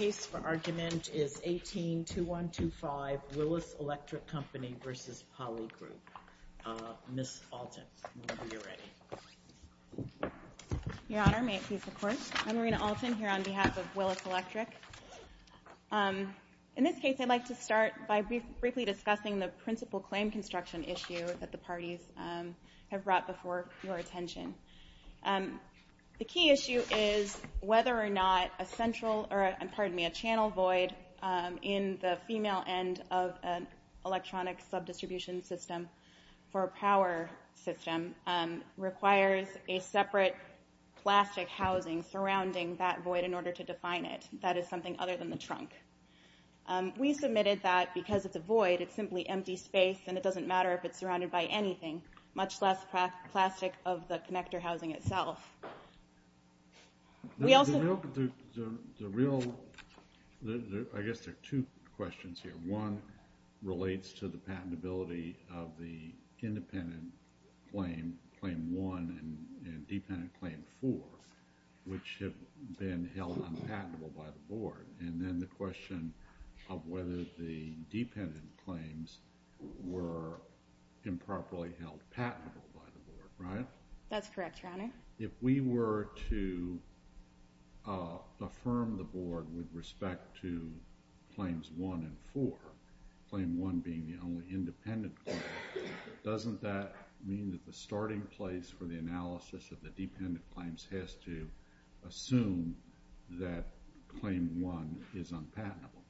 is 182125 Willis Electric Company v. Polygroup. Ms. Alton, whenever you're ready. Your Honor, may it please the Court. I'm Marina Alton here on behalf of Willis Electric. In this case, I'd like to start by briefly discussing the principal claim construction issue that the parties have brought before your attention. The key issue is whether or not a channel void in the female end of an electronic sub-distribution system for a power system requires a separate plastic housing surrounding that void in order to define it. That is something other than the trunk. We submitted that because it's a void, it's simply empty space and it doesn't matter if it's surrounded by anything, much less plastic of the connector housing itself. I guess there are two questions here. One relates to the patentability of the independent claim, claim one, and dependent claim four, which have been held unpatentable by the Board. And then the question of whether the dependent claims were improperly held patentable by the Board, right? That's correct, Your Honor. If we were to affirm the Board with respect to claims one and four, claim one being the only independent claim, doesn't that mean that the starting place for the analysis of the dependent claims has to assume that claim one is unpatentable?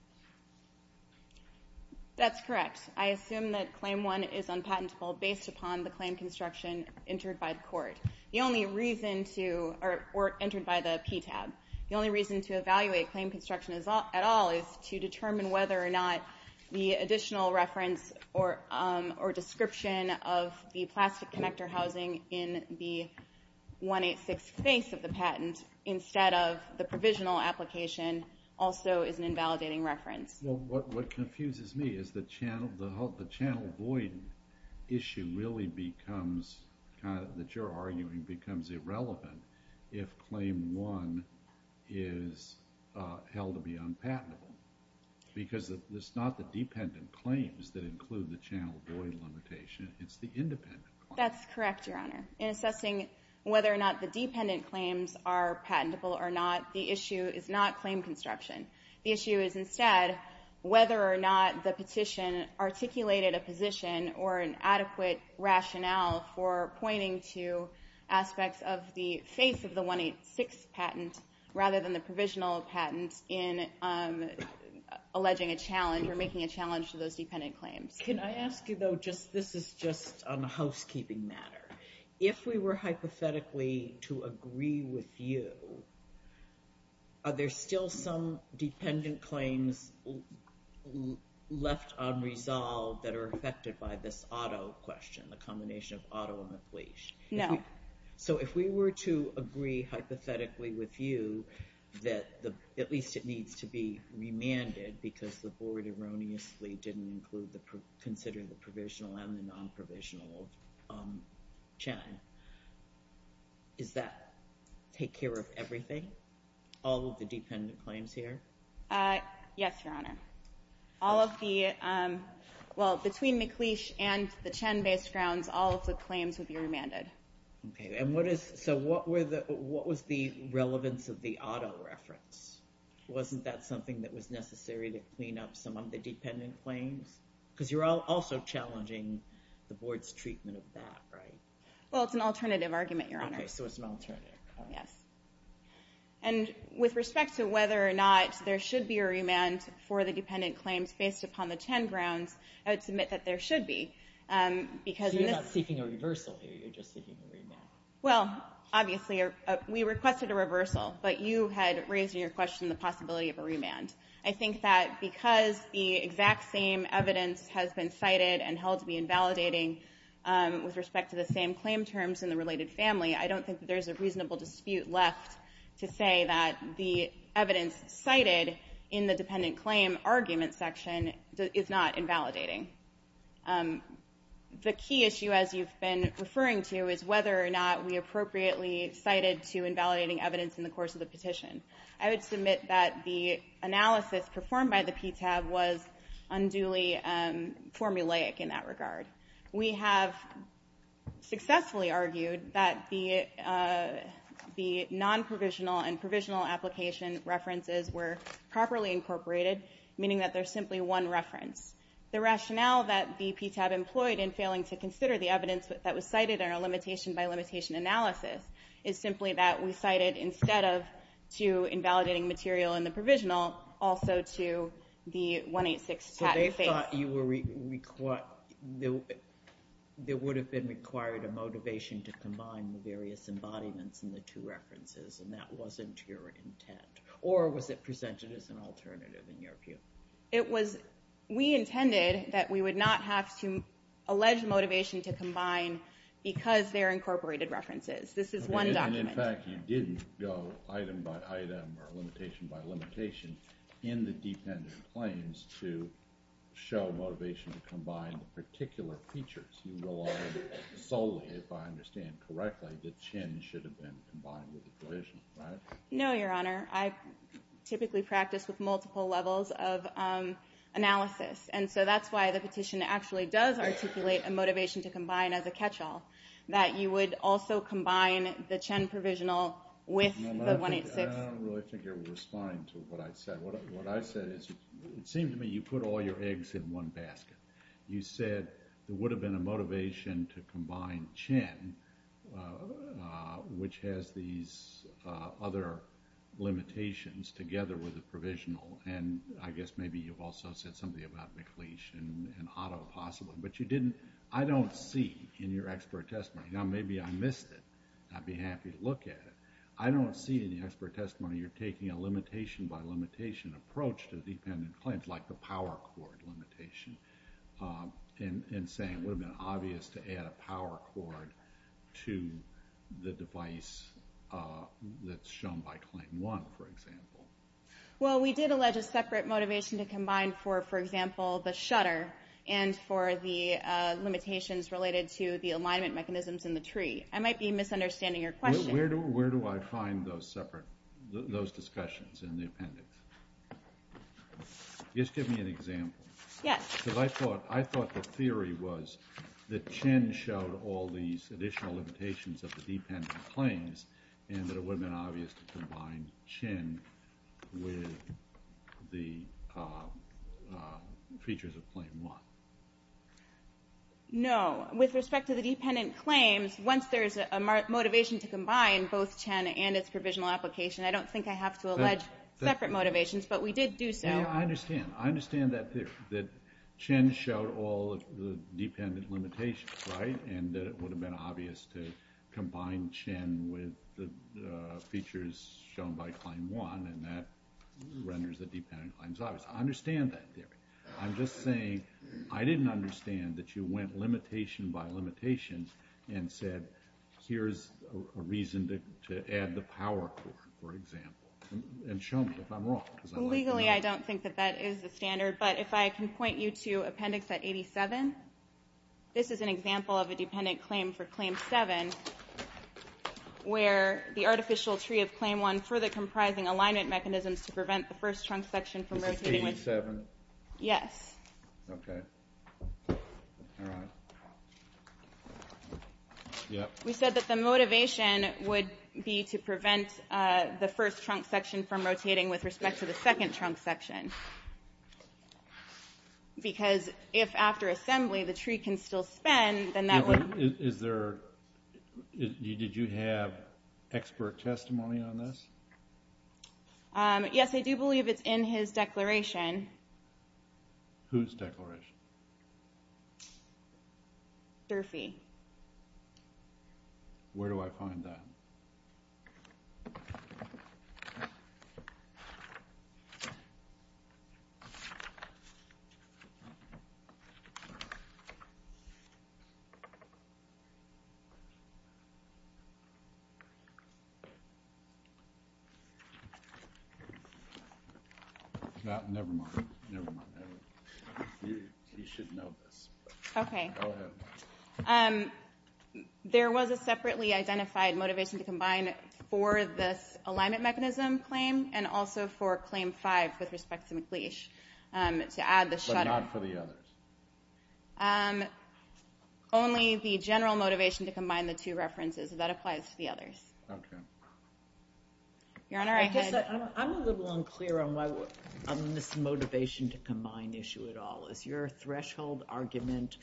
That's correct. I assume that claim one is unpatentable based upon the claim construction entered by the court, or entered by the PTAB. The only reason to evaluate claim construction at all is to determine whether or not the additional reference or description of the 186 face of the patent, instead of the provisional application, also is an invalidating reference. Well, what confuses me is the channel void issue really becomes, that you're arguing, becomes irrelevant if claim one is held to be unpatentable. Because it's not the dependent claims that include the channel void limitation, it's the independent claims. That's correct, Your Honor. In assessing whether or not the dependent claims are patentable or not, the issue is not claim construction. The issue is instead whether or not the petition articulated a position or an adequate rationale for pointing to aspects of the face of the 186 patent rather than the provisional patent in alleging a challenge or making a challenge to those dependent claims. Can I ask you, though, this is just on a housekeeping matter. If we were hypothetically to agree with you, are there still some dependent claims left unresolved that are affected by this auto question, the combination of auto and the police? No. So if we were to agree hypothetically with you that at least it needs to be remanded because the board erroneously didn't consider the provisional and the non-provisional CHEN, does that take care of everything, all of the dependent claims here? Yes, Your Honor. Between McLeish and the CHEN-based grounds, all of the claims would be remanded. So what was the relevance of the auto reference? Wasn't that something that was necessary to clean up some of the dependent claims? Because you're also challenging the board's treatment of that, right? Well, it's an alternative argument, Your Honor. Okay, so it's an alternative. Yes. And with respect to whether or not there should be a remand for the dependent claims based upon the CHEN grounds, I would submit that there should be. So you're not seeking a reversal here. You're just seeking a remand. Well, obviously, we requested a reversal, but you had raised in your question the possibility of a remand. I think that because the exact same evidence has been cited and held to be invalidating with respect to the same claim terms in the related family, I don't think that there's a reasonable dispute left to say that the evidence cited in the dependent The key issue, as you've been referring to, is whether or not we appropriately cited to invalidating evidence in the course of the petition. I would submit that the analysis performed by the PTAB was unduly formulaic in that regard. We have successfully argued that the non-provisional and provisional application references were properly incorporated, meaning that there's simply one reference. The rationale that the PTAB employed in failing to consider the evidence that was cited in our limitation-by-limitation analysis is simply that we cited, instead of to invalidating material in the provisional, also to the 186 patent phase. So they thought there would have been required a motivation to combine the various embodiments in the two references, and that wasn't your intent? Or was it presented as an alternative, in your view? It was... We intended that we would not have to allege motivation to combine because they're incorporated references. This is one document. And in fact, you didn't go item-by-item or limitation-by-limitation in the dependent claims to show motivation to combine the particular features. You relied solely, if I understand correctly, that Chin should have been combined with the provisional, right? No, Your Honor. I typically practice with multiple levels of analysis. And so that's why the petition actually does articulate a motivation to combine as a catch-all, that you would also combine the Chin provisional with the 186. I don't really think you're responding to what I said. What I said is, it seems to me you put all your eggs in one basket. You said there would have been a motivation to combine Chin, which has these other limitations together with the provisional. And I guess maybe you've also said something about McLeish and Otto, possibly. But you didn't... I don't see in your expert testimony... Now, maybe I missed it. I'd be happy to look at it. I don't see in the expert testimony you're taking a limitation-by-limitation approach to dependent claims, like the power cord limitation, and saying it would have been obvious to add a power cord to the device that's shown by Claim 1, for example. Well, we did allege a separate motivation to combine for, for example, the shutter and for the limitations related to the alignment mechanisms in the tree. I might be misunderstanding your question. Where do I find those separate... those discussions in the appendix? Just give me an example. Yes. Because I thought the theory was that Chin showed all these additional limitations of the dependent claims, and that it would have been obvious to combine Chin with the features of Claim 1. No. With respect to the dependent claims, once there's a motivation to combine both Chin and its provisional application, I don't think I have to allege separate motivations, but we did do so. I understand. I understand that theory, that Chin showed all the dependent limitations, right, and that it would have been obvious to combine Chin with the features shown by Claim 1, and that renders the dependent claims obvious. I understand that theory. I'm just saying I didn't understand that you went limitation by limitation and said, here's a reason to add the power core, for example. And show me if I'm wrong. Legally, I don't think that that is the standard, but if I can point you to Appendix at 87, this is an example of a dependent claim for Claim 7, where the artificial tree of Claim 1 further comprising alignment mechanisms to prevent the first trunk section from rotating with... We said that the motivation would be to prevent the first trunk section from rotating with respect to the second trunk section, because if after assembly the tree can still spin, then that would... Did you have expert testimony on this? Yes, I do believe it's in his DERPY. Where do I find that? Never mind. You should know this. There was a separately identified motivation to combine for this alignment mechanism claim, and also for Claim 5 with respect to McLeish. But not for the others? Only the general motivation to combine the two references. That applies to the others. I'm a little unclear on why this provisional is your threshold argument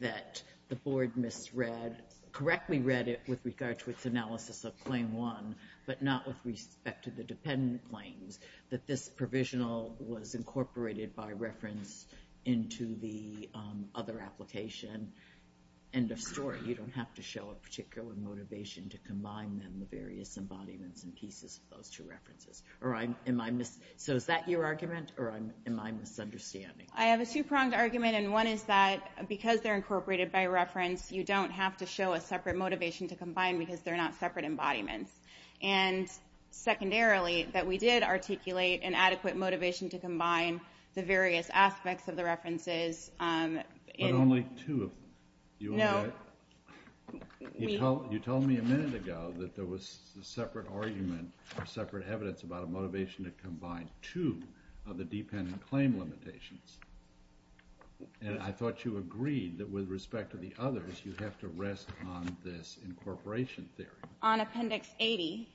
that the Board misread, correctly read it with regard to its analysis of Claim 1, but not with respect to the dependent claims, that this provisional was incorporated by reference into the other application. End of story. You don't have to show a particular motivation to combine them, the various embodiments and pieces of those two references. So is that your argument, or am I misunderstanding? I have a two-pronged argument, and one is that because they're incorporated by reference, you don't have to show a separate motivation to combine because they're not separate embodiments. And secondarily, that we did articulate an adequate motivation to combine the various aspects of the references. But only two of them. You told me a minute ago that there was a separate argument or separate evidence about a motivation to combine two of the dependent claim limitations. And I thought you agreed that with respect to the others, you have to rest on this incorporation theory. On Appendix 80,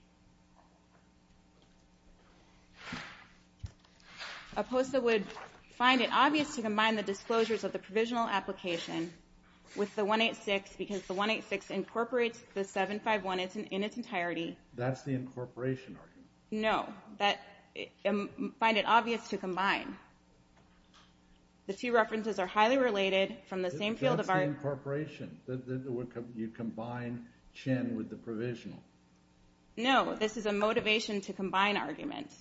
Oposa would find it obvious to combine the disclosures of the provisional application with the 186 because the 186 incorporates the 751 in its entirety. That's the incorporation argument. No. Find it obvious to combine. The two references are highly related from the same field of art. Incorporation. You combine Chin with the provisional. No. This is a motivation to combine argument.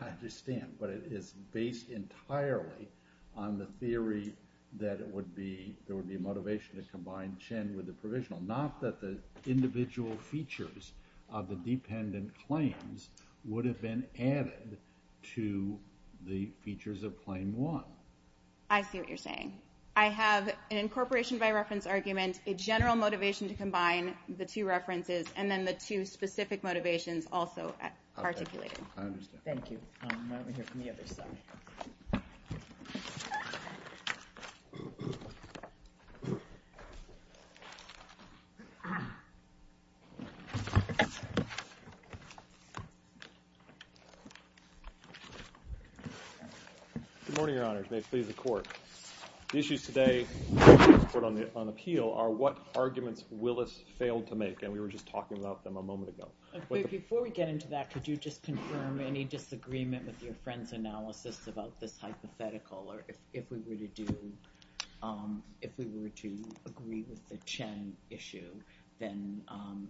I understand, but it is based entirely on the theory that it would be a motivation to combine Chin with the provisional. Not that the individual features of the dependent claims would have been added to the features of claim one. I see what you're saying. I have an incorporation by reference argument, a general motivation to combine the two references, and then the two specific motivations also articulated. Thank you. Good morning, Your Honors. May it please the Court. The issues today on appeal are what arguments Willis failed to make, and we were just talking about them a moment ago. Before we get into that, could you just confirm any disagreement with your friend's analysis about this hypothetical, or if we were to do, if we were to agree with the Chin issue, then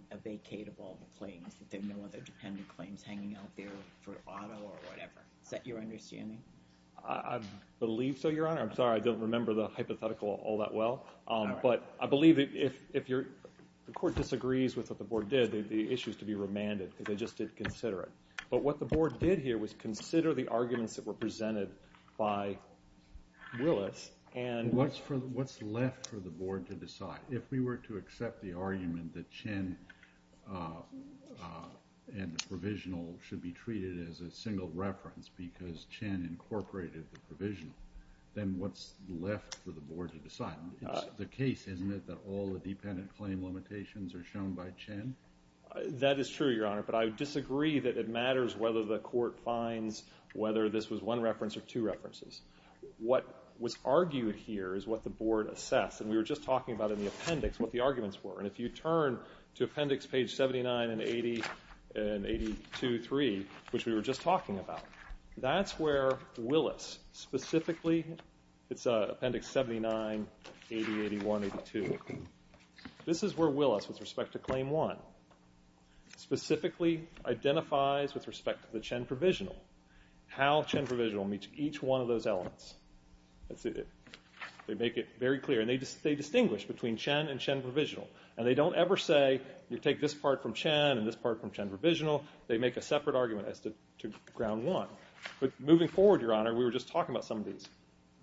a vacate of all the claims, if there are no other dependent claims hanging out there for auto or whatever. Is that your understanding? I believe so, Your Honor. I'm sorry, I don't remember the hypothetical all that well. But I believe if the Court disagrees with what the Board did, the issue is to be remanded, because they just didn't consider it. But what the Board did here was consider the arguments that were presented by Willis. What's left for the Board to decide? If we were to accept the argument that Chin and the provisional should be treated as a single reference because Chin incorporated the provisional, then what's left for the Board to decide? It's the case, isn't it, that all the dependent claim limitations are shown by Chin? That is true, Your Honor, but I disagree that it matters whether the Court finds whether this was one reference or two references. What was argued here is what the Board assessed, and we were just talking about in the appendix what the arguments were. And if you turn to appendix page 79 and 80, and 82.3, which we were just talking about, that's where Willis specifically, it's appendix 79, 80, 81, 82. This is where Willis, with respect to Claim 1, specifically identifies, with respect to the Chin provisional, how Chin provisional meets each one of those elements. They make it very clear. And they distinguish between Chin and Chin provisional. And they don't ever say, you take this part from Chin and this part from Chin provisional. They make a separate argument as to Ground 1. But moving forward, Your Honor, we were just talking about some of these.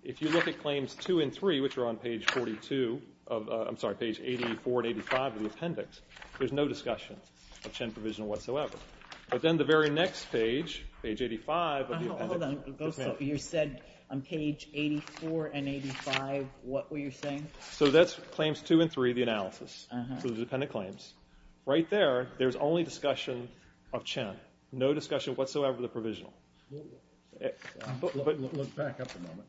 If you look at Claims 2 and 3, which are on page 42, I'm sorry, page 84 and 85 of the appendix, there's no discussion of Chin provisional whatsoever. But then the very next page, page 85 of the appendix. You said on page 84 and 85, what were you saying? So that's Claims 2 and 3, the analysis. So the dependent claims. Right there, there's only discussion of Chin. No discussion whatsoever of the provisional. Look back up a moment.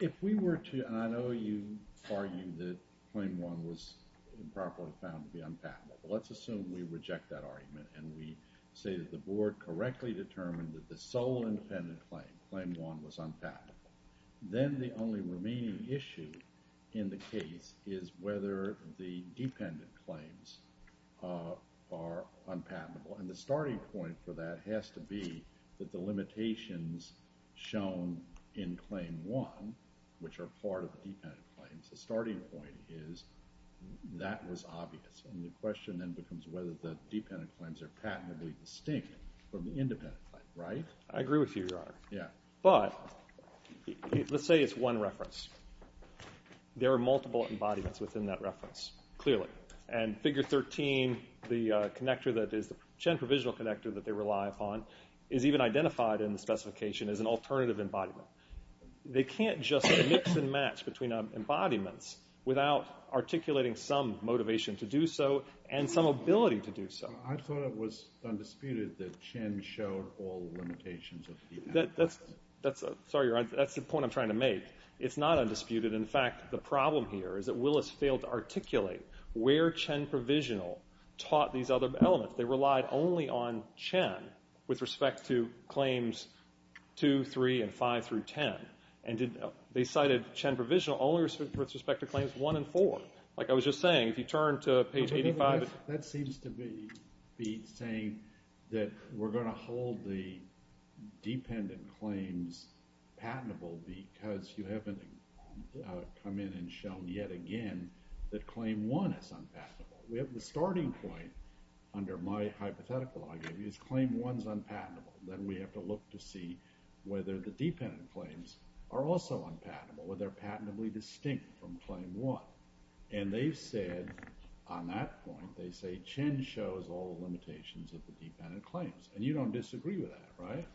If we were to, and I know you argue that Claim 1 was improperly found to be unpatentable. Let's assume we reject that argument and we say that the Board correctly determined that the sole independent claim, Claim 1, was unpatentable. Then the only remaining issue in the case is whether the dependent claims are unpatentable. And the starting point for that has to be that the limitations shown in Claim 1, which are part of the dependent claims, the starting point is that was obvious. And the question then becomes whether the dependent claims are patently distinct from the independent claims. Right? I agree with you, Your Honor. But let's say it's one reference. There are multiple embodiments within that reference, clearly. And Figure 13, the connector that is the Chin Provisional Connector that they rely upon, is even identified in the specification as an alternative embodiment. They can't just mix and match between embodiments without articulating some motivation to do so and some ability to do so. I thought it was undisputed that Chin showed all limitations. Sorry, Your Honor. That's the point I'm trying to make. It's not undisputed. In fact, the problem here is that Willis failed to articulate where Chin Provisional taught these other elements. They relied only on Chin with respect to claims 2, 3, and 5 through 10. They cited Chin Provisional only with respect to claims 1 and 4. Like I was just saying, if you turn to page 85. That seems to be saying that we're going to hold the dependent claims patentable because you haven't come in and shown yet again that claim 1 is unpatentable. We have the starting point, under my hypothetical argument, is claim 1 is unpatentable. Then we have to look to see whether the dependent claims are also unpatentable. Whether they're patentably distinct from claim 1. And they've said, on that point, they say Chin shows all the limitations of the dependent claims. And you don't disagree with that, right?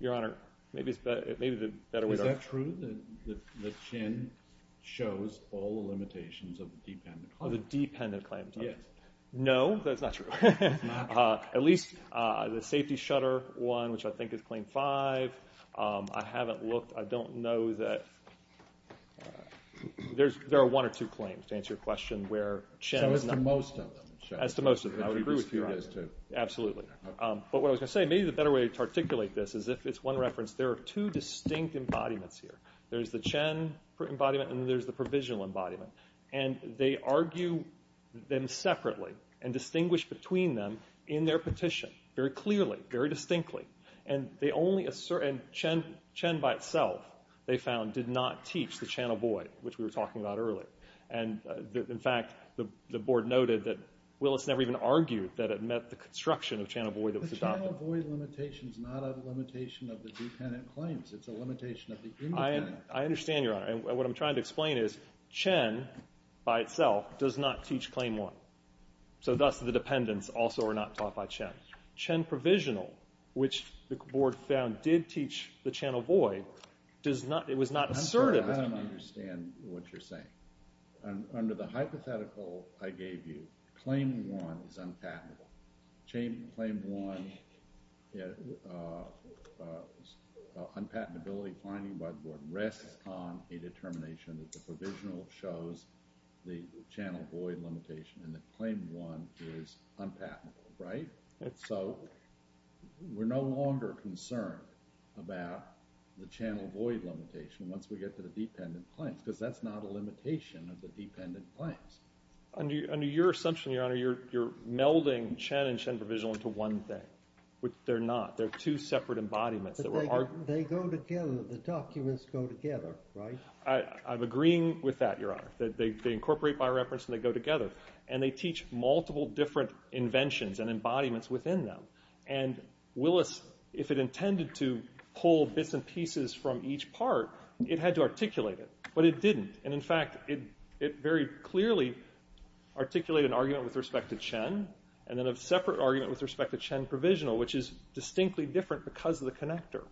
Your Honor, maybe the better way to... Is that true? That Chin shows all the limitations of the dependent claims? Of the dependent claims, yes. No, that's not true. At least the safety shutter one, which I think is claim 5, I haven't looked. I don't know that... There are one or two claims, to answer your question. So it's to most of them. Absolutely. But what I was going to say, maybe the better way to articulate this is if it's one reference, there are two distinct embodiments here. There's the Chin embodiment and there's the Provisional embodiment. And they argue them separately and distinguish between them in their petition, very clearly, very distinctly. And they only assert... And Chin by itself, they found, did not teach the channel void, which we were talking about earlier. And in fact, the Board noted that Willis never even argued that it met the construction of channel void that was adopted. The channel void limitation is not a limitation of the dependent claims. It's a limitation of the independent claims. I understand, Your Honor. And what I'm trying to explain is Chin, by itself, does not teach claim 1. So thus the dependents also are not taught by Chin. Chin Provisional, which the Board found did teach the channel void, it was not assertive. I don't understand what you're saying. Under the hypothetical I gave you, claim 1 is unpatentable. Claim 1, unpatentability finding by the Board rests on a determination that the Provisional shows the channel void limitation and that claim 1 is unpatentable, right? So we're no longer concerned about the channel void limitation once we get to the dependent claims, because that's not a limitation of the dependent claims. Under your assumption, Your Honor, you're melding Chin and Chin Provisional into one thing, which they're not. They're two separate embodiments. They go together. The documents go together, right? I'm agreeing with that, Your Honor. They incorporate by reference and they go together. And they teach multiple different inventions and embodiments within them. And Willis, if it intended to pull bits and pieces from each part, it had to articulate it. But it didn't. And in fact, it very clearly articulated an argument with respect to Chin and then a separate argument with respect to Chin Provisional, which is distinctly different because of the connector.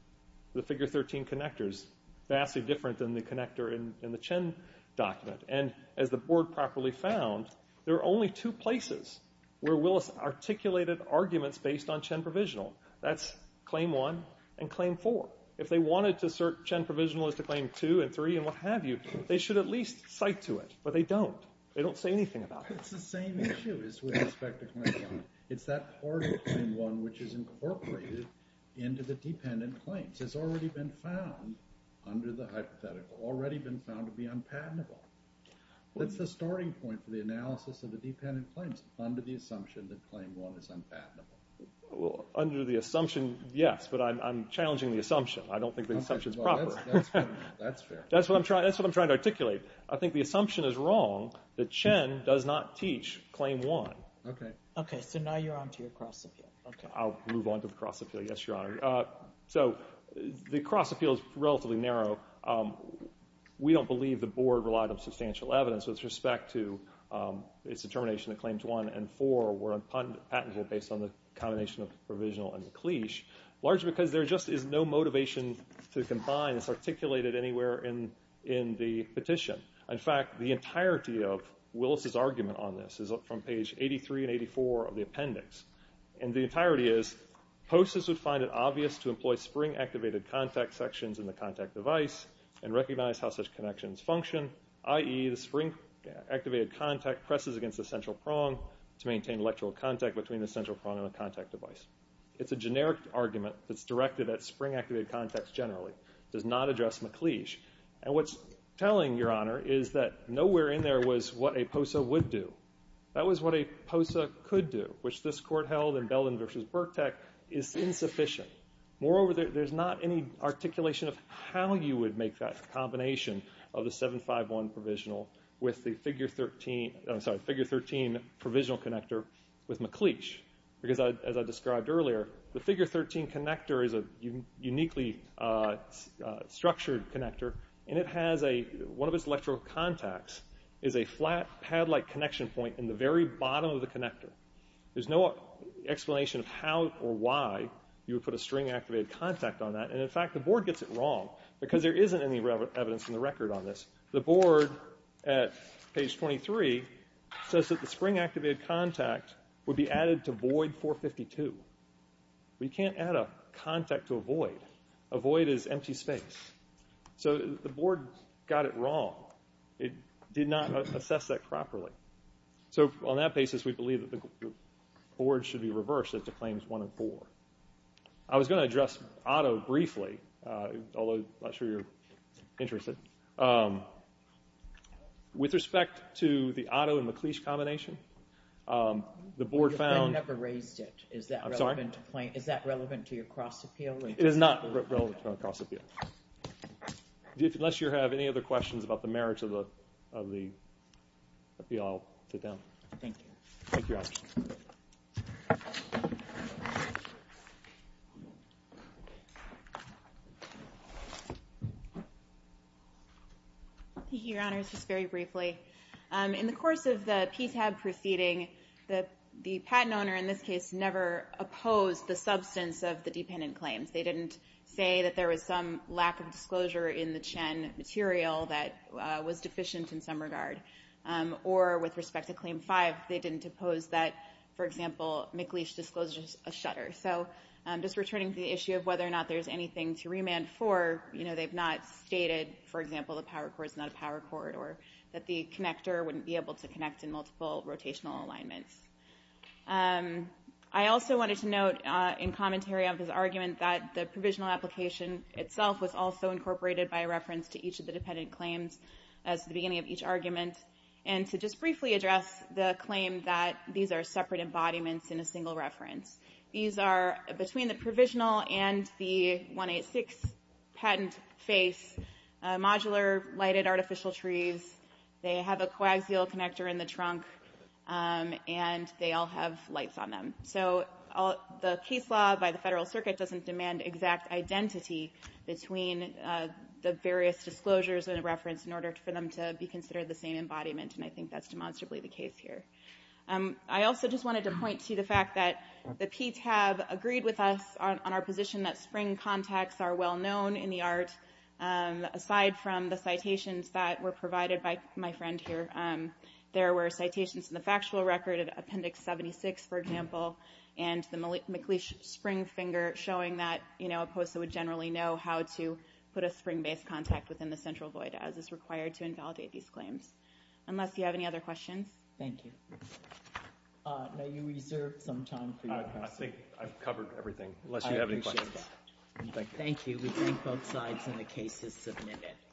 The figure 13 connector is vastly different than the connector in the Chin document. And as the Board properly found, there are only two places where Willis articulated arguments based on Chin Provisional. That's Claim 1 and Claim 4. If they wanted to assert Chin Provisional as to Claim 2 and 3 and what have you, they should at least cite to it. But they don't. They don't say anything about it. It's the same issue with respect to Claim 1. It's that part of Claim 1 which is incorporated into the dependent claims. It's already been found under the hypothetical, already been found to be unpatentable. That's the starting point for the analysis of the dependent claims under the assumption that Claim 1 is unpatentable. Under the assumption, yes, but I'm challenging the assumption. I don't think the assumption is proper. That's what I'm trying to articulate. I think the assumption is wrong that Chin does not teach Claim 1. Okay, so now you're on to your cross-appeal. I'll move on to the cross-appeal, yes, Your Honor. So the cross-appeal is relatively narrow. We don't believe the Board relied on substantial evidence with respect to its determination that Claims 1 and 4 were unpatentable based on the combination of Provisional and McLeish. Largely because there just is no motivation to combine this articulated anywhere in the petition. In fact, the entirety of Willis' argument on this is up from page 83 and 84 of the appendix. And the entirety is, POSAs would find it obvious to employ spring-activated contact sections in the contact device and recognize how such connections function, i.e., the spring-activated contact presses against the central prong to maintain electrical contact between the central prong and the contact device. It's a generic argument that's directed at spring-activated contacts generally. It does not address McLeish. And what's telling, Your Honor, is that nowhere in there was what a POSA would do. That was what a POSA could do, which this Court held in Belden v. Burkett is insufficient. Moreover, there's not any articulation of how you would make that combination of the 751 Provisional with the Figure 13 Provisional Connector with McLeish. Because as I described earlier, the Figure 13 Connector is a uniquely structured connector, and it has a, one of its electrical contacts is a flat, pad-like connection point in the very bottom of the connector. There's no explanation of how or why you would put a spring-activated contact on that. And in fact, the Board gets it wrong, because there isn't any evidence in the record on this. The Board, at page 23, says that the spring-activated contact would be added to void 452. We can't add a contact to a void. A void is empty space. So the Board got it wrong. It did not assess that properly. So on that basis, we believe that the Board should be reversed as to Claims 104. I was going to address Otto briefly, although I'm not sure you're interested. With respect to the Otto and McLeish combination, the Board found... Is that relevant to your cross-appeal? It is not relevant to our cross-appeal. Unless you have any other questions about the merits of the appeal, I'll sit down. Thank you. Thank you, Your Honors. Just very briefly, in the course of the PTAB proceeding, the patent owner, in this case, never opposed the substance of the dependent claims. They didn't say that there was some lack of disclosure in the Chen material that was deficient in some regard. Or with respect to Claim 5, they didn't oppose that, for example, McLeish disclosed a shutter. So just as an example, the power cord is not a power cord, or that the connector wouldn't be able to connect in multiple rotational alignments. I also wanted to note in commentary on this argument that the provisional application itself was also incorporated by reference to each of the dependent claims as the beginning of each argument. And to just briefly address the claim that these are separate embodiments in a single reference. These are between the provisional and the 186 patent face, modular lighted artificial trees, they have a coaxial connector in the trunk, and they all have lights on them. So the case law by the Federal Circuit doesn't demand exact identity between the various disclosures in a reference in order for them to be considered the same embodiment, and I think that's demonstrably the case here. I also just wanted to point to the fact that the PTAB agreed with us on our position that spring contacts are well known in the art, aside from the citations that were provided by my friend here. There were citations in the factual record of Appendix 76, for example, and the McLeish spring finger showing that a POSA would generally know how to put a spring-based contact within the central void as is required to invalidate these claims. Unless you have any other questions? Thank you. May you reserve some time for your questions. I think I've covered everything, unless you have any questions. I appreciate that. Thank you. We thank both sides and the case is submitted.